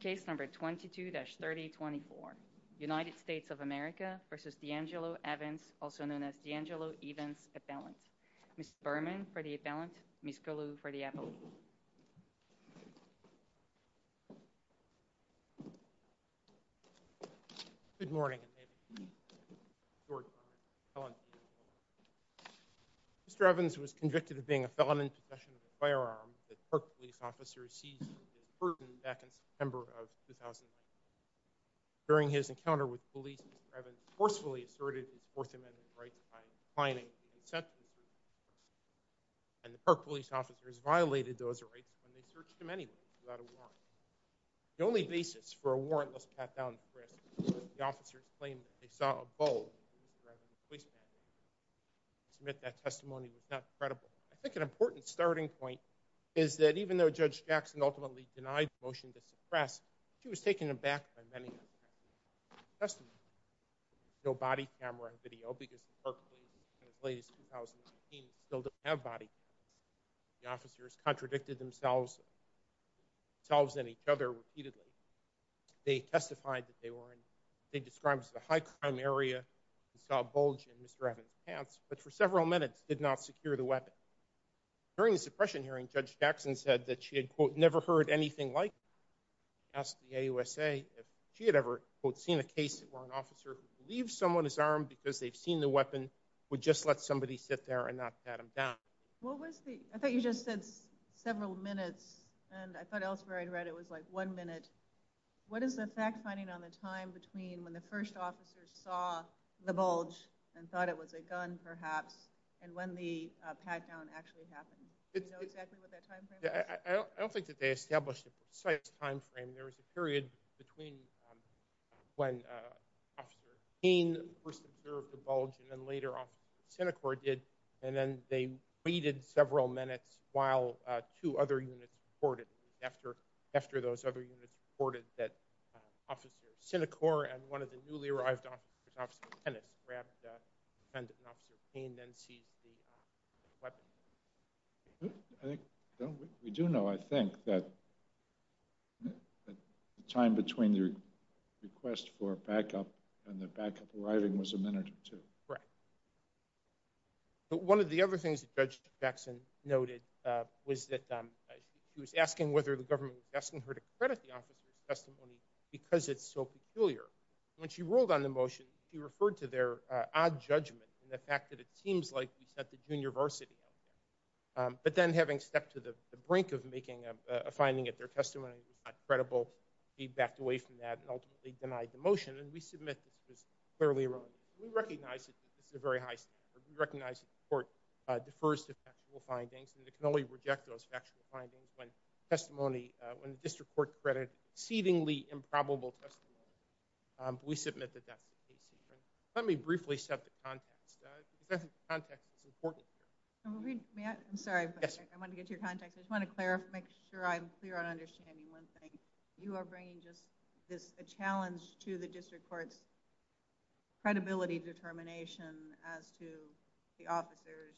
Case number 22-3024 United States of America v. Deangelo Evans also known as Deangelo Evans Appellant Ms. Berman for the appellant, Ms. Colu for the appellant Good morning Mr. Evans was convicted of being a felon in possession of a firearm that a park police officer seized from his burden back in September of 2009 During his encounter with police, Mr. Evans forcefully asserted his Fourth Amendment rights by declining the consent of the search warrant officers and the park police officers violated those rights when they searched him anyway without a warrant The only basis for a warrantless pat-down of the arrest was that the officers claimed that they saw a bulb in Mr. Evans' waistband To submit that testimony was not credible I think an important starting point is that even though Judge Jackson ultimately denied the motion to suppress she was taken aback by many of the facts of the testimony No body camera video because the park police in as late as 2018 still didn't have body cameras The officers contradicted themselves and each other repeatedly They testified that they were in what they described as a high crime area They saw a bulge in Mr. Evans' pants but for several minutes did not secure the weapon During the suppression hearing, Judge Jackson said that she had never heard anything like it She asked the AUSA if she had ever seen a case where an officer who believes someone is armed because they've seen the weapon would just let somebody sit there and not pat him down I thought you just said several minutes and I thought elsewhere I read it was like one minute What is the fact finding on the time between when the first officers saw the bulge and thought it was a gun perhaps and when the pat-down actually happened? Do you know exactly what that time frame was? I don't think that they established a precise time frame There was a period between when Officer Payne first observed the bulge and then later Officer Sinecourt did and then they waited several minutes while two other units reported after those other units reported that Officer Sinecourt and one of the newly-arrived officers, Officer Pennis, grabbed the defendant and Officer Payne then seized the weapon We do know, I think, that the time between the request for backup and the backup arriving was a minute or two One of the other things that Judge Jackson noted was that she was asking whether the government was asking her to credit the officer's testimony because it's so peculiar When she ruled on the motion, she referred to their odd judgment and the fact that it seems like we set the junior varsity on him but then having stepped to the brink of making a finding at their testimony it was not credible, she backed away from that and ultimately denied the motion and we submit this was clearly wrong We recognize that this is a very high standard We recognize that the court defers to factual findings and it can only reject those factual findings when the district court credited exceedingly improbable testimony We submit that that's the case here Let me briefly set the context because I think the context is important here I'm sorry, I want to get to your context I just want to clarify, make sure I'm clear on understanding one thing You are bringing just this challenge to the district court's credibility determination as to the officers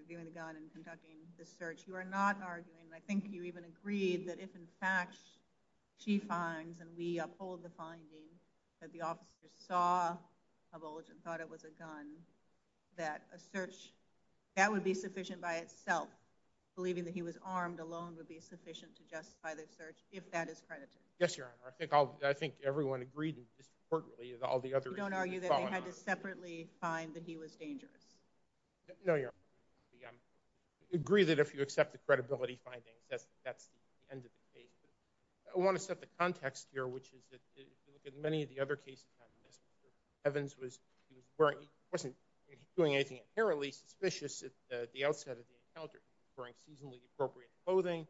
reviewing the gun and conducting the search You are not arguing, I think you even agreed that if in fact she finds and we uphold the finding that the officers saw a bulge and thought it was a gun that a search, that would be sufficient by itself believing that he was armed alone would be sufficient to justify the search if that is credited Yes your honor, I think everyone agreed in the district court You don't argue that they had to separately find that he was dangerous No your honor, I agree that if you accept the credibility findings that's the end of the case I want to set the context here which is that if you look at many of the other cases Evans wasn't doing anything inherently suspicious at the outset of the encounter wearing seasonally appropriate clothing,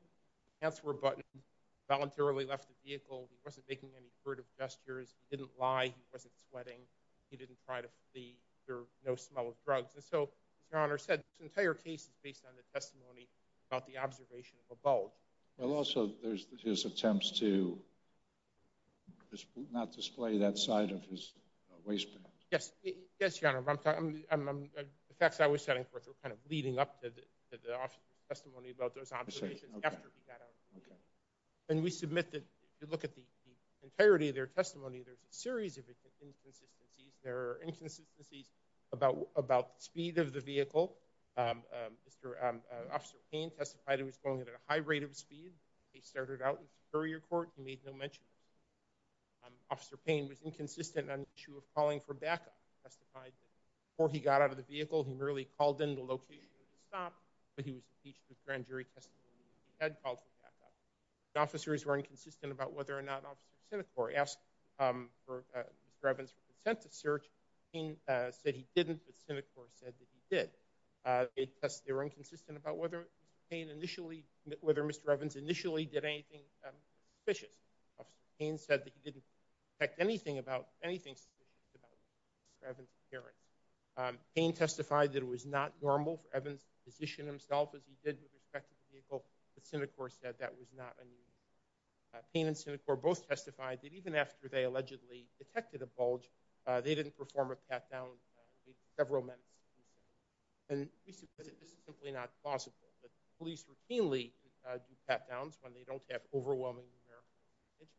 hands were buttoned, voluntarily left the vehicle he wasn't making any furtive gestures, he didn't lie, he wasn't sweating he didn't try to flee, there was no smell of drugs So as your honor said, this entire case is based on the testimony about the observation of a bulge Well also there's his attempts to not display that side of his waistband Yes your honor, the facts I was setting forth were kind of leading up to the officer's testimony about those observations after he got out And we submit that if you look at the entirety of their testimony there's a series of inconsistencies There are inconsistencies about the speed of the vehicle Officer Payne testified he was going at a high rate of speed The case started out in superior court, he made no mention of it Officer Payne was inconsistent on the issue of calling for backup Before he got out of the vehicle he merely called in the location of the stop but he was impeached with grand jury testimony, he had called for backup The officers were inconsistent about whether or not Officer Sinecor asked Mr. Evans for consent to search Officer Payne said he didn't, but Sinecor said that he did They were inconsistent about whether Mr. Evans initially did anything suspicious Officer Payne said that he didn't detect anything suspicious about Mr. Evans' appearance Payne testified that it was not normal for Evans to position himself as he did with respect to the vehicle but Sinecor said that was not a need Payne and Sinecor both testified that even after they allegedly detected a bulge they didn't perform a pat-down for several minutes We suppose that this is simply not possible Police routinely do pat-downs when they don't have overwhelming numerical evidence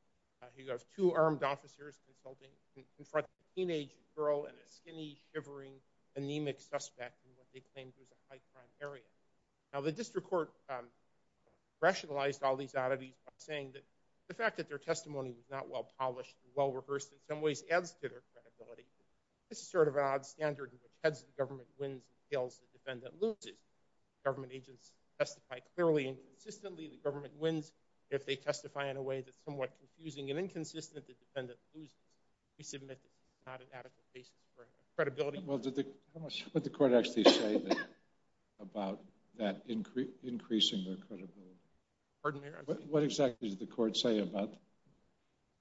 You have two armed officers consulting in front of a teenage girl and a skinny, shivering, anemic suspect in what they claimed was a high-crime area Now the district court rationalized all these oddities by saying that The fact that their testimony was not well-polished and well-rehearsed in some ways adds to their credibility This is sort of an odd standard in which heads of the government wins and tails of the defendant loses Government agents testify clearly and consistently The government wins if they testify in a way that's somewhat confusing and inconsistent The defendant loses We submit this is not an adequate basis for credibility How much would the court actually say about that increasing their credibility? Pardon me? What exactly did the court say about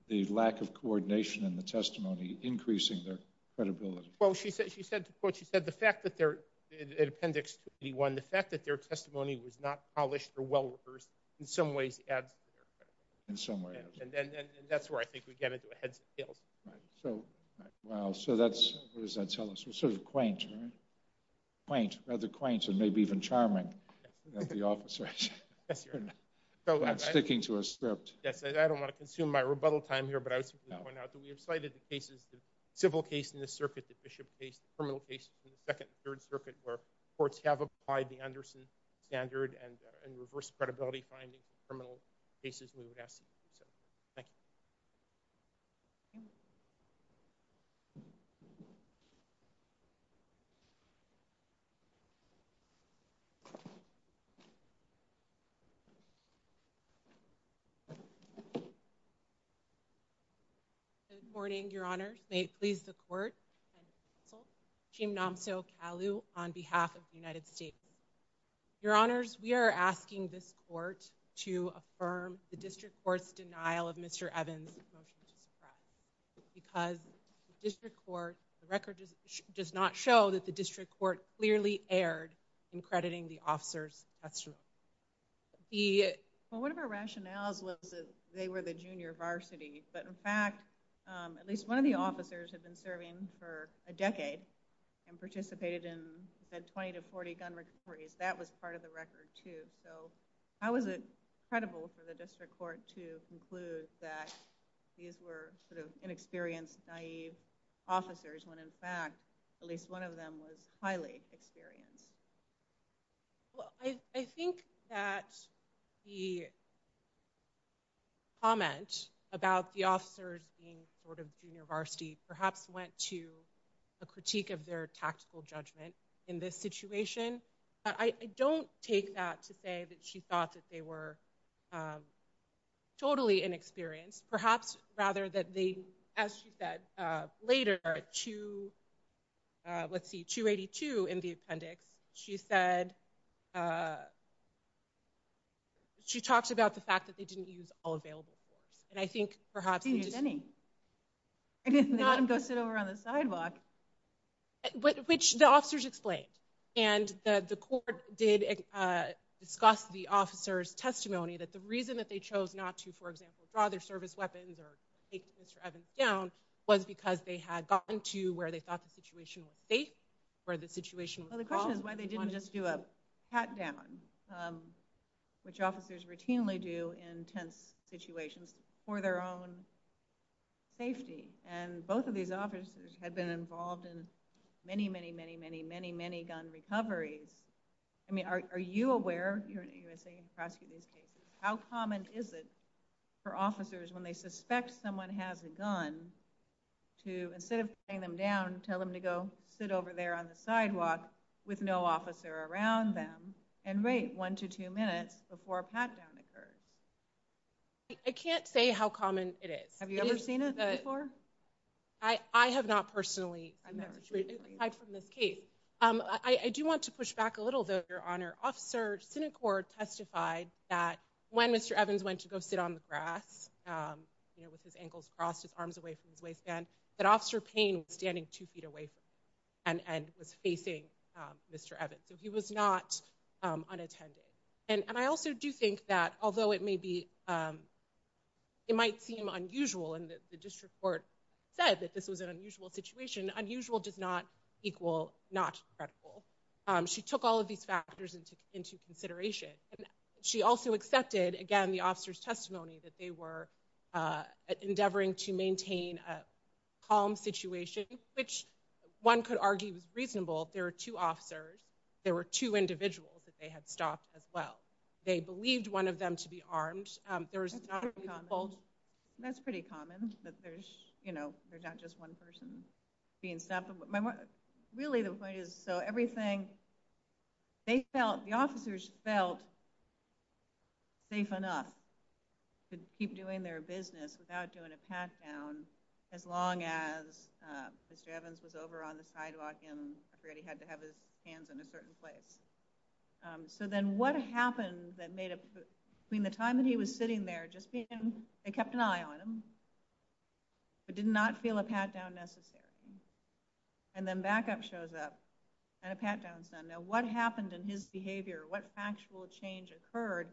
the lack of coordination in the testimony increasing their credibility? Well, she said the fact that their, in appendix 21, the fact that their testimony was not polished or well-rehearsed in some ways adds to their credibility In some ways And that's where I think we get into a heads and tails Wow, so that's, what does that tell us? Sort of quaint, right? Quaint, rather quaint and maybe even charming That's the officer Yes, Your Honor Not sticking to a script Yes, I don't want to consume my rebuttal time here, but I would simply point out that we have cited the cases The civil case in this circuit, the Bishop case, the criminal case in the Second and Third Circuit where courts have applied the Anderson standard and reverse credibility finding for criminal cases We would ask you to do so Thank you Good morning, Your Honors May it please the Court and the Council Chim Namso Kalu on behalf of the United States Your Honors, we are asking this Court to affirm the District Court's denial of Mr. Evans' motion to suppress Because the District Court, the record does not show that the District Court clearly erred in crediting the officers That's true One of our rationales was that they were the junior varsity But in fact, at least one of the officers had been serving for a decade and participated in 20 to 40 gun recoveries That was part of the record, too So how is it credible for the District Court to conclude that these were sort of inexperienced, naive officers when in fact, at least one of them was highly experienced? Well, I think that the comment about the officers being sort of junior varsity perhaps went to a critique of their tactical judgment in this situation I don't take that to say that she thought that they were totally inexperienced Perhaps rather that they, as she said later, 282 in the appendix She said, she talked about the fact that they didn't use all available force And I think perhaps They didn't use any They let him go sit over on the sidewalk Which the officers explained And the court did discuss the officers' testimony that the reason that they chose not to, for example, draw their service weapons or take Mr. Evans down was because they had gotten to where they thought the situation was safe or the situation was calm Well, the question is why they didn't just do a pat-down which officers routinely do in tense situations for their own safety And both of these officers had been involved in many, many, many, many, many, many gun recoveries I mean, are you aware, you're an U.S.A. and you prosecute these cases How common is it for officers when they suspect someone has a gun to, instead of putting them down, tell them to go sit over there on the sidewalk with no officer around them and wait one to two minutes before a pat-down occurs? I can't say how common it is Have you ever seen it before? I have not personally, aside from this case I do want to push back a little, though, Your Honor Officer Sinecord testified that when Mr. Evans went to go sit on the grass with his ankles crossed, his arms away from his waistband that Officer Payne was standing two feet away from him and was facing Mr. Evans So he was not unattended And I also do think that, although it may be, it might seem unusual and the district court said that this was an unusual situation Unusual does not equal not credible She took all of these factors into consideration She also accepted, again, the officer's testimony that they were endeavoring to maintain a calm situation which one could argue was reasonable There were two officers There were two individuals that they had stopped as well They believed one of them to be armed That's pretty common There's not just one person being stopped Really the point is, so everything The officers felt safe enough to keep doing their business without doing a pat-down as long as Mr. Evans was over on the sidewalk and I forget, he had to have his hands in a certain place So then what happened that made a Between the time that he was sitting there, just being They kept an eye on him but did not feel a pat-down necessary And then backup shows up and a pat-down's done Now what happened in his behavior? What factual change occurred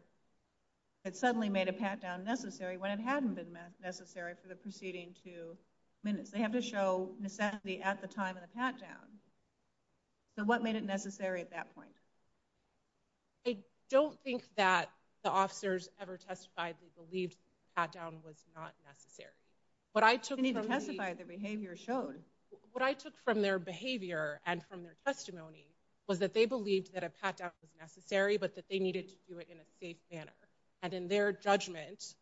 that suddenly made a pat-down necessary when it hadn't been necessary for the preceding two minutes? They have to show necessity at the time of the pat-down So what made it necessary at that point? I don't think that the officers ever testified they believed a pat-down was not necessary They need to testify, their behavior showed What I took from their behavior and from their testimony was that they believed that a pat-down was necessary but that they needed to do it in a safe manner And in their judgment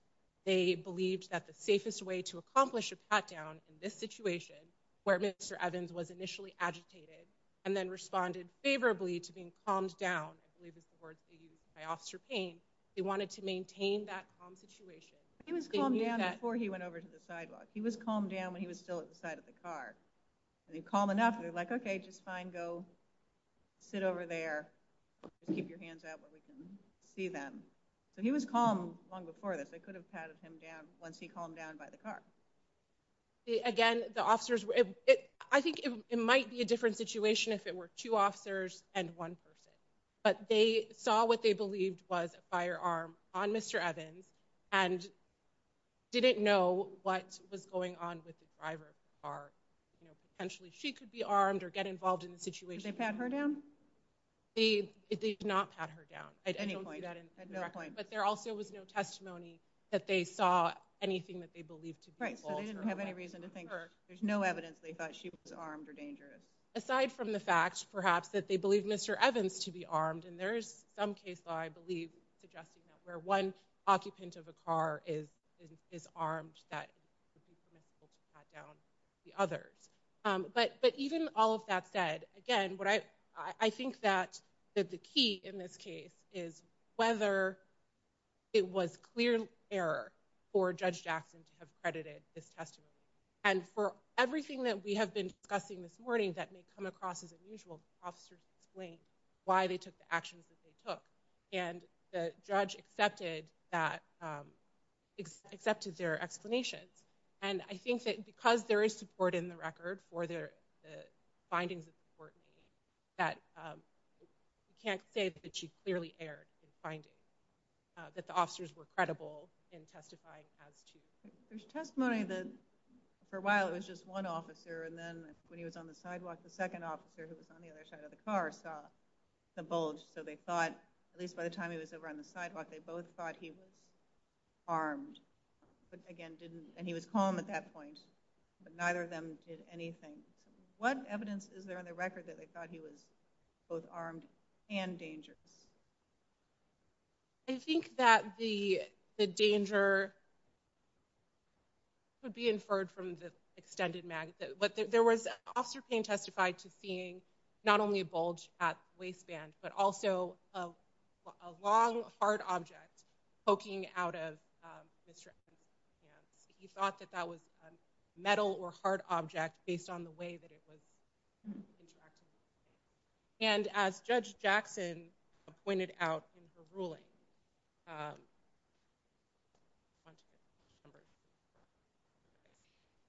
they believed that the safest way to accomplish a pat-down in this situation, where Mr. Evans was initially agitated and then responded favorably to being calmed down I believe is the word they used by Officer Payne They wanted to maintain that calm situation He was calmed down before he went over to the sidewalk He was calmed down when he was still at the side of the car When they're calm enough, they're like, okay, just fine, go sit over there Keep your hands out where we can see them So he was calm long before this They could have patted him down once he calmed down by the car Again, the officers were I think it might be a different situation if it were two officers and one person But they saw what they believed was a firearm on Mr. Evans and didn't know what was going on with the driver of the car Potentially she could be armed or get involved in the situation Did they pat her down? They did not pat her down I don't see that in the record But there also was no testimony that they saw anything that they believed to be false So they didn't have any reason to think there's no evidence they thought she was armed or dangerous Aside from the fact, perhaps, that they believed Mr. Evans to be armed and there is some case law, I believe, suggesting that where one occupant of a car is armed that it would be permissible to pat down the others But even all of that said Again, I think that the key in this case is whether it was clear error for Judge Jackson to have credited this testimony And for everything that we have been discussing this morning that may come across as unusual the officers explained why they took the actions that they took And the judge accepted their explanations And I think that because there is support in the record for the findings of the court meeting that you can't say that she clearly erred in finding that the officers were credible in testifying as to There's testimony that for a while it was just one officer and then when he was on the sidewalk the second officer, who was on the other side of the car saw the bulge So they thought, at least by the time he was over on the sidewalk they both thought he was armed And he was calm at that point But neither of them did anything What evidence is there in the record that they thought he was both armed and dangerous? I think that the danger could be inferred from the extended mag There was, Officer Payne testified to seeing not only a bulge at the waistband but also a long hard object poking out of Mr. Anderson's hands He thought that that was a metal or hard object based on the way that it was interacting And as Judge Jackson pointed out in her ruling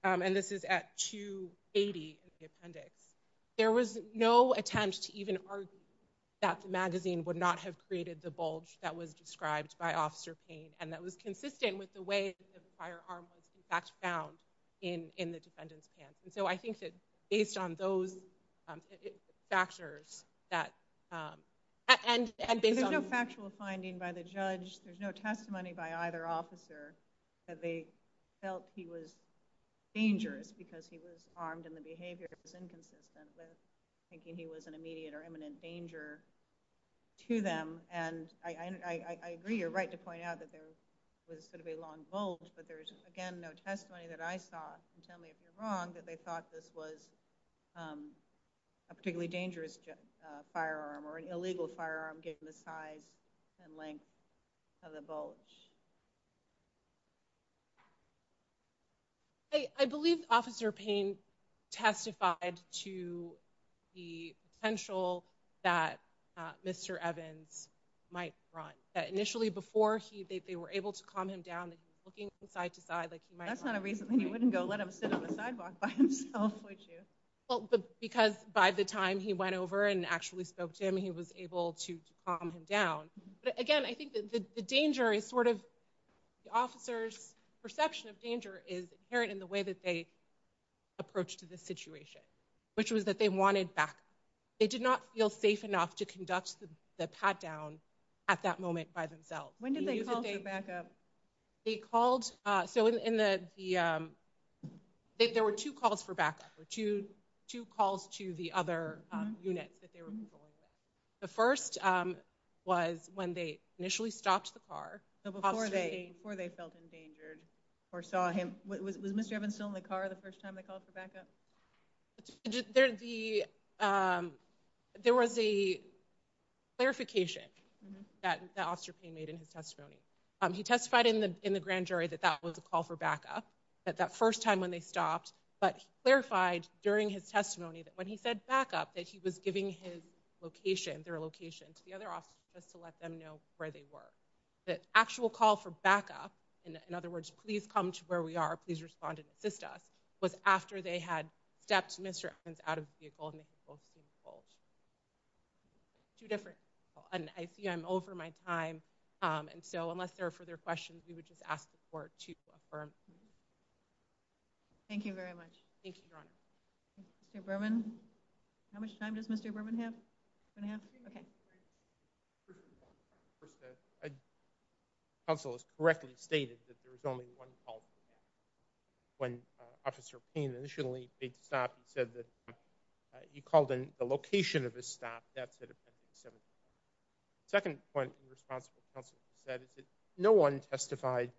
And this is at 280 in the appendix There was no attempt to even argue that the magazine would not have created the bulge that was described by Officer Payne And that was consistent with the way that the firearm was in fact found in the defendant's pants And so I think that based on those factors There's no factual finding by the judge There's no testimony by either officer that they felt he was dangerous because he was armed and the behavior was inconsistent with thinking he was an immediate or imminent danger to them And I agree you're right to point out that there was sort of a long bulge but there's again no testimony that I saw and tell me if you're wrong that they thought this was a particularly dangerous firearm or an illegal firearm given the size and length of the bulge I believe Officer Payne testified to the potential that Mr. Evans might run that initially before they were able to calm him down that he was looking side to side like he might run That's not a reason he wouldn't go let him sit on the sidewalk by himself would you? Well because by the time he went over and actually spoke to him he was able to calm him down But again I think the danger is sort of the officer's perception of danger is inherent in the way that they approach to this situation which was that they wanted backup They did not feel safe enough to conduct the pat-down at that moment by themselves When did they call for backup? They called So in the There were two calls for backup Two calls to the other units that they were controlling The first was when they initially stopped the car Before they felt endangered or saw him Was Mr. Evans still in the car the first time they called for backup? There was a clarification that Officer Payne made in his testimony He testified in the grand jury that that was a call for backup that that first time when they stopped but he clarified during his testimony that when he said backup that he was giving his location their location to the other officers just to let them know where they were The actual call for backup in other words please come to where we are please respond and assist us was after they had stepped Mr. Evans out of the vehicle and they had both seen the bulge Two different and I see I'm over my time and so unless there are further questions we would just ask the court to affirm Thank you very much Thank you, Your Honor Mr. Berman How much time does Mr. Berman have? Two and a half? Okay Counsel has correctly stated that there was only one call for backup when Officer Payne initially made the stop he said that he called in the location of his stop that's at Appendix 17 Second point the responsible counsel said is that no one testified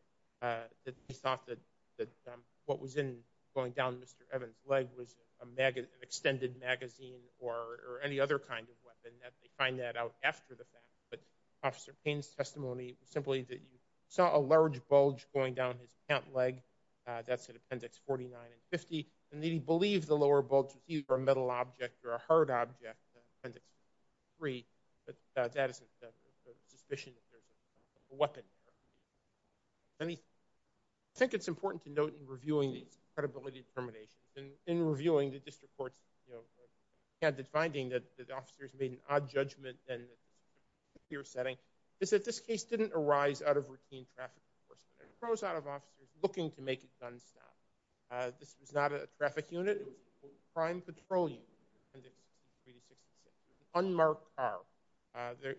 that he thought that that what was in going down Mr. Evans' leg was an extended magazine or any other kind of weapon that they find that out after the fact but Officer Payne's testimony simply that he saw a large bulge going down his pant leg that's at Appendix 49 and 50 and that he believed the lower bulge was either a metal object or a hard object in Appendix 3 but that isn't a suspicion that there's a weapon there I think it's important to note in reviewing these credibility determinations and in reviewing the district court's you know candid finding that the officers made an odd judgment in a secure setting is that this case didn't arise out of routine traffic enforcement it arose out of officers looking to make a gun stop this was not a traffic unit it was a prime patrol unit in Appendix 63 to 66 an unmarked car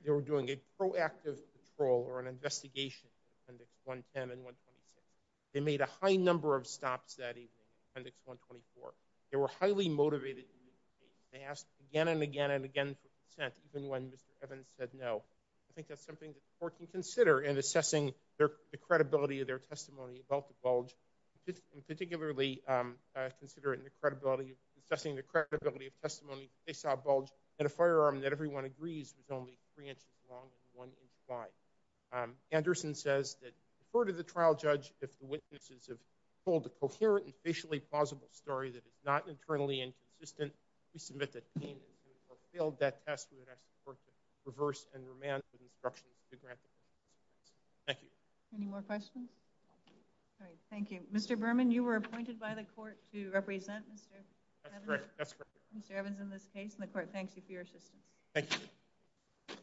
they were doing a proactive patrol or an investigation in Appendix 110 and 126 they made a high number of stops that evening in Appendix 124 they were highly motivated they asked again and again and again for consent even when Mr. Evans said no I think that's something the court can consider in assessing the credibility of their testimony about the bulge particularly considering the credibility assessing the credibility of testimony they saw a bulge and a firearm that everyone agrees was only three inches long and one inch wide Anderson says that refer to the trial judge if the witnesses have told a coherent and spatially plausible story that is not internally inconsistent we submit that pain or failed that test we would ask the court to reverse and remand the instructions Thank you Any more questions? Thank you Mr. Berman you were appointed by the court to represent Mr. Evans That's correct Mr. Evans in this case and the court thanks you for your assistance Thank you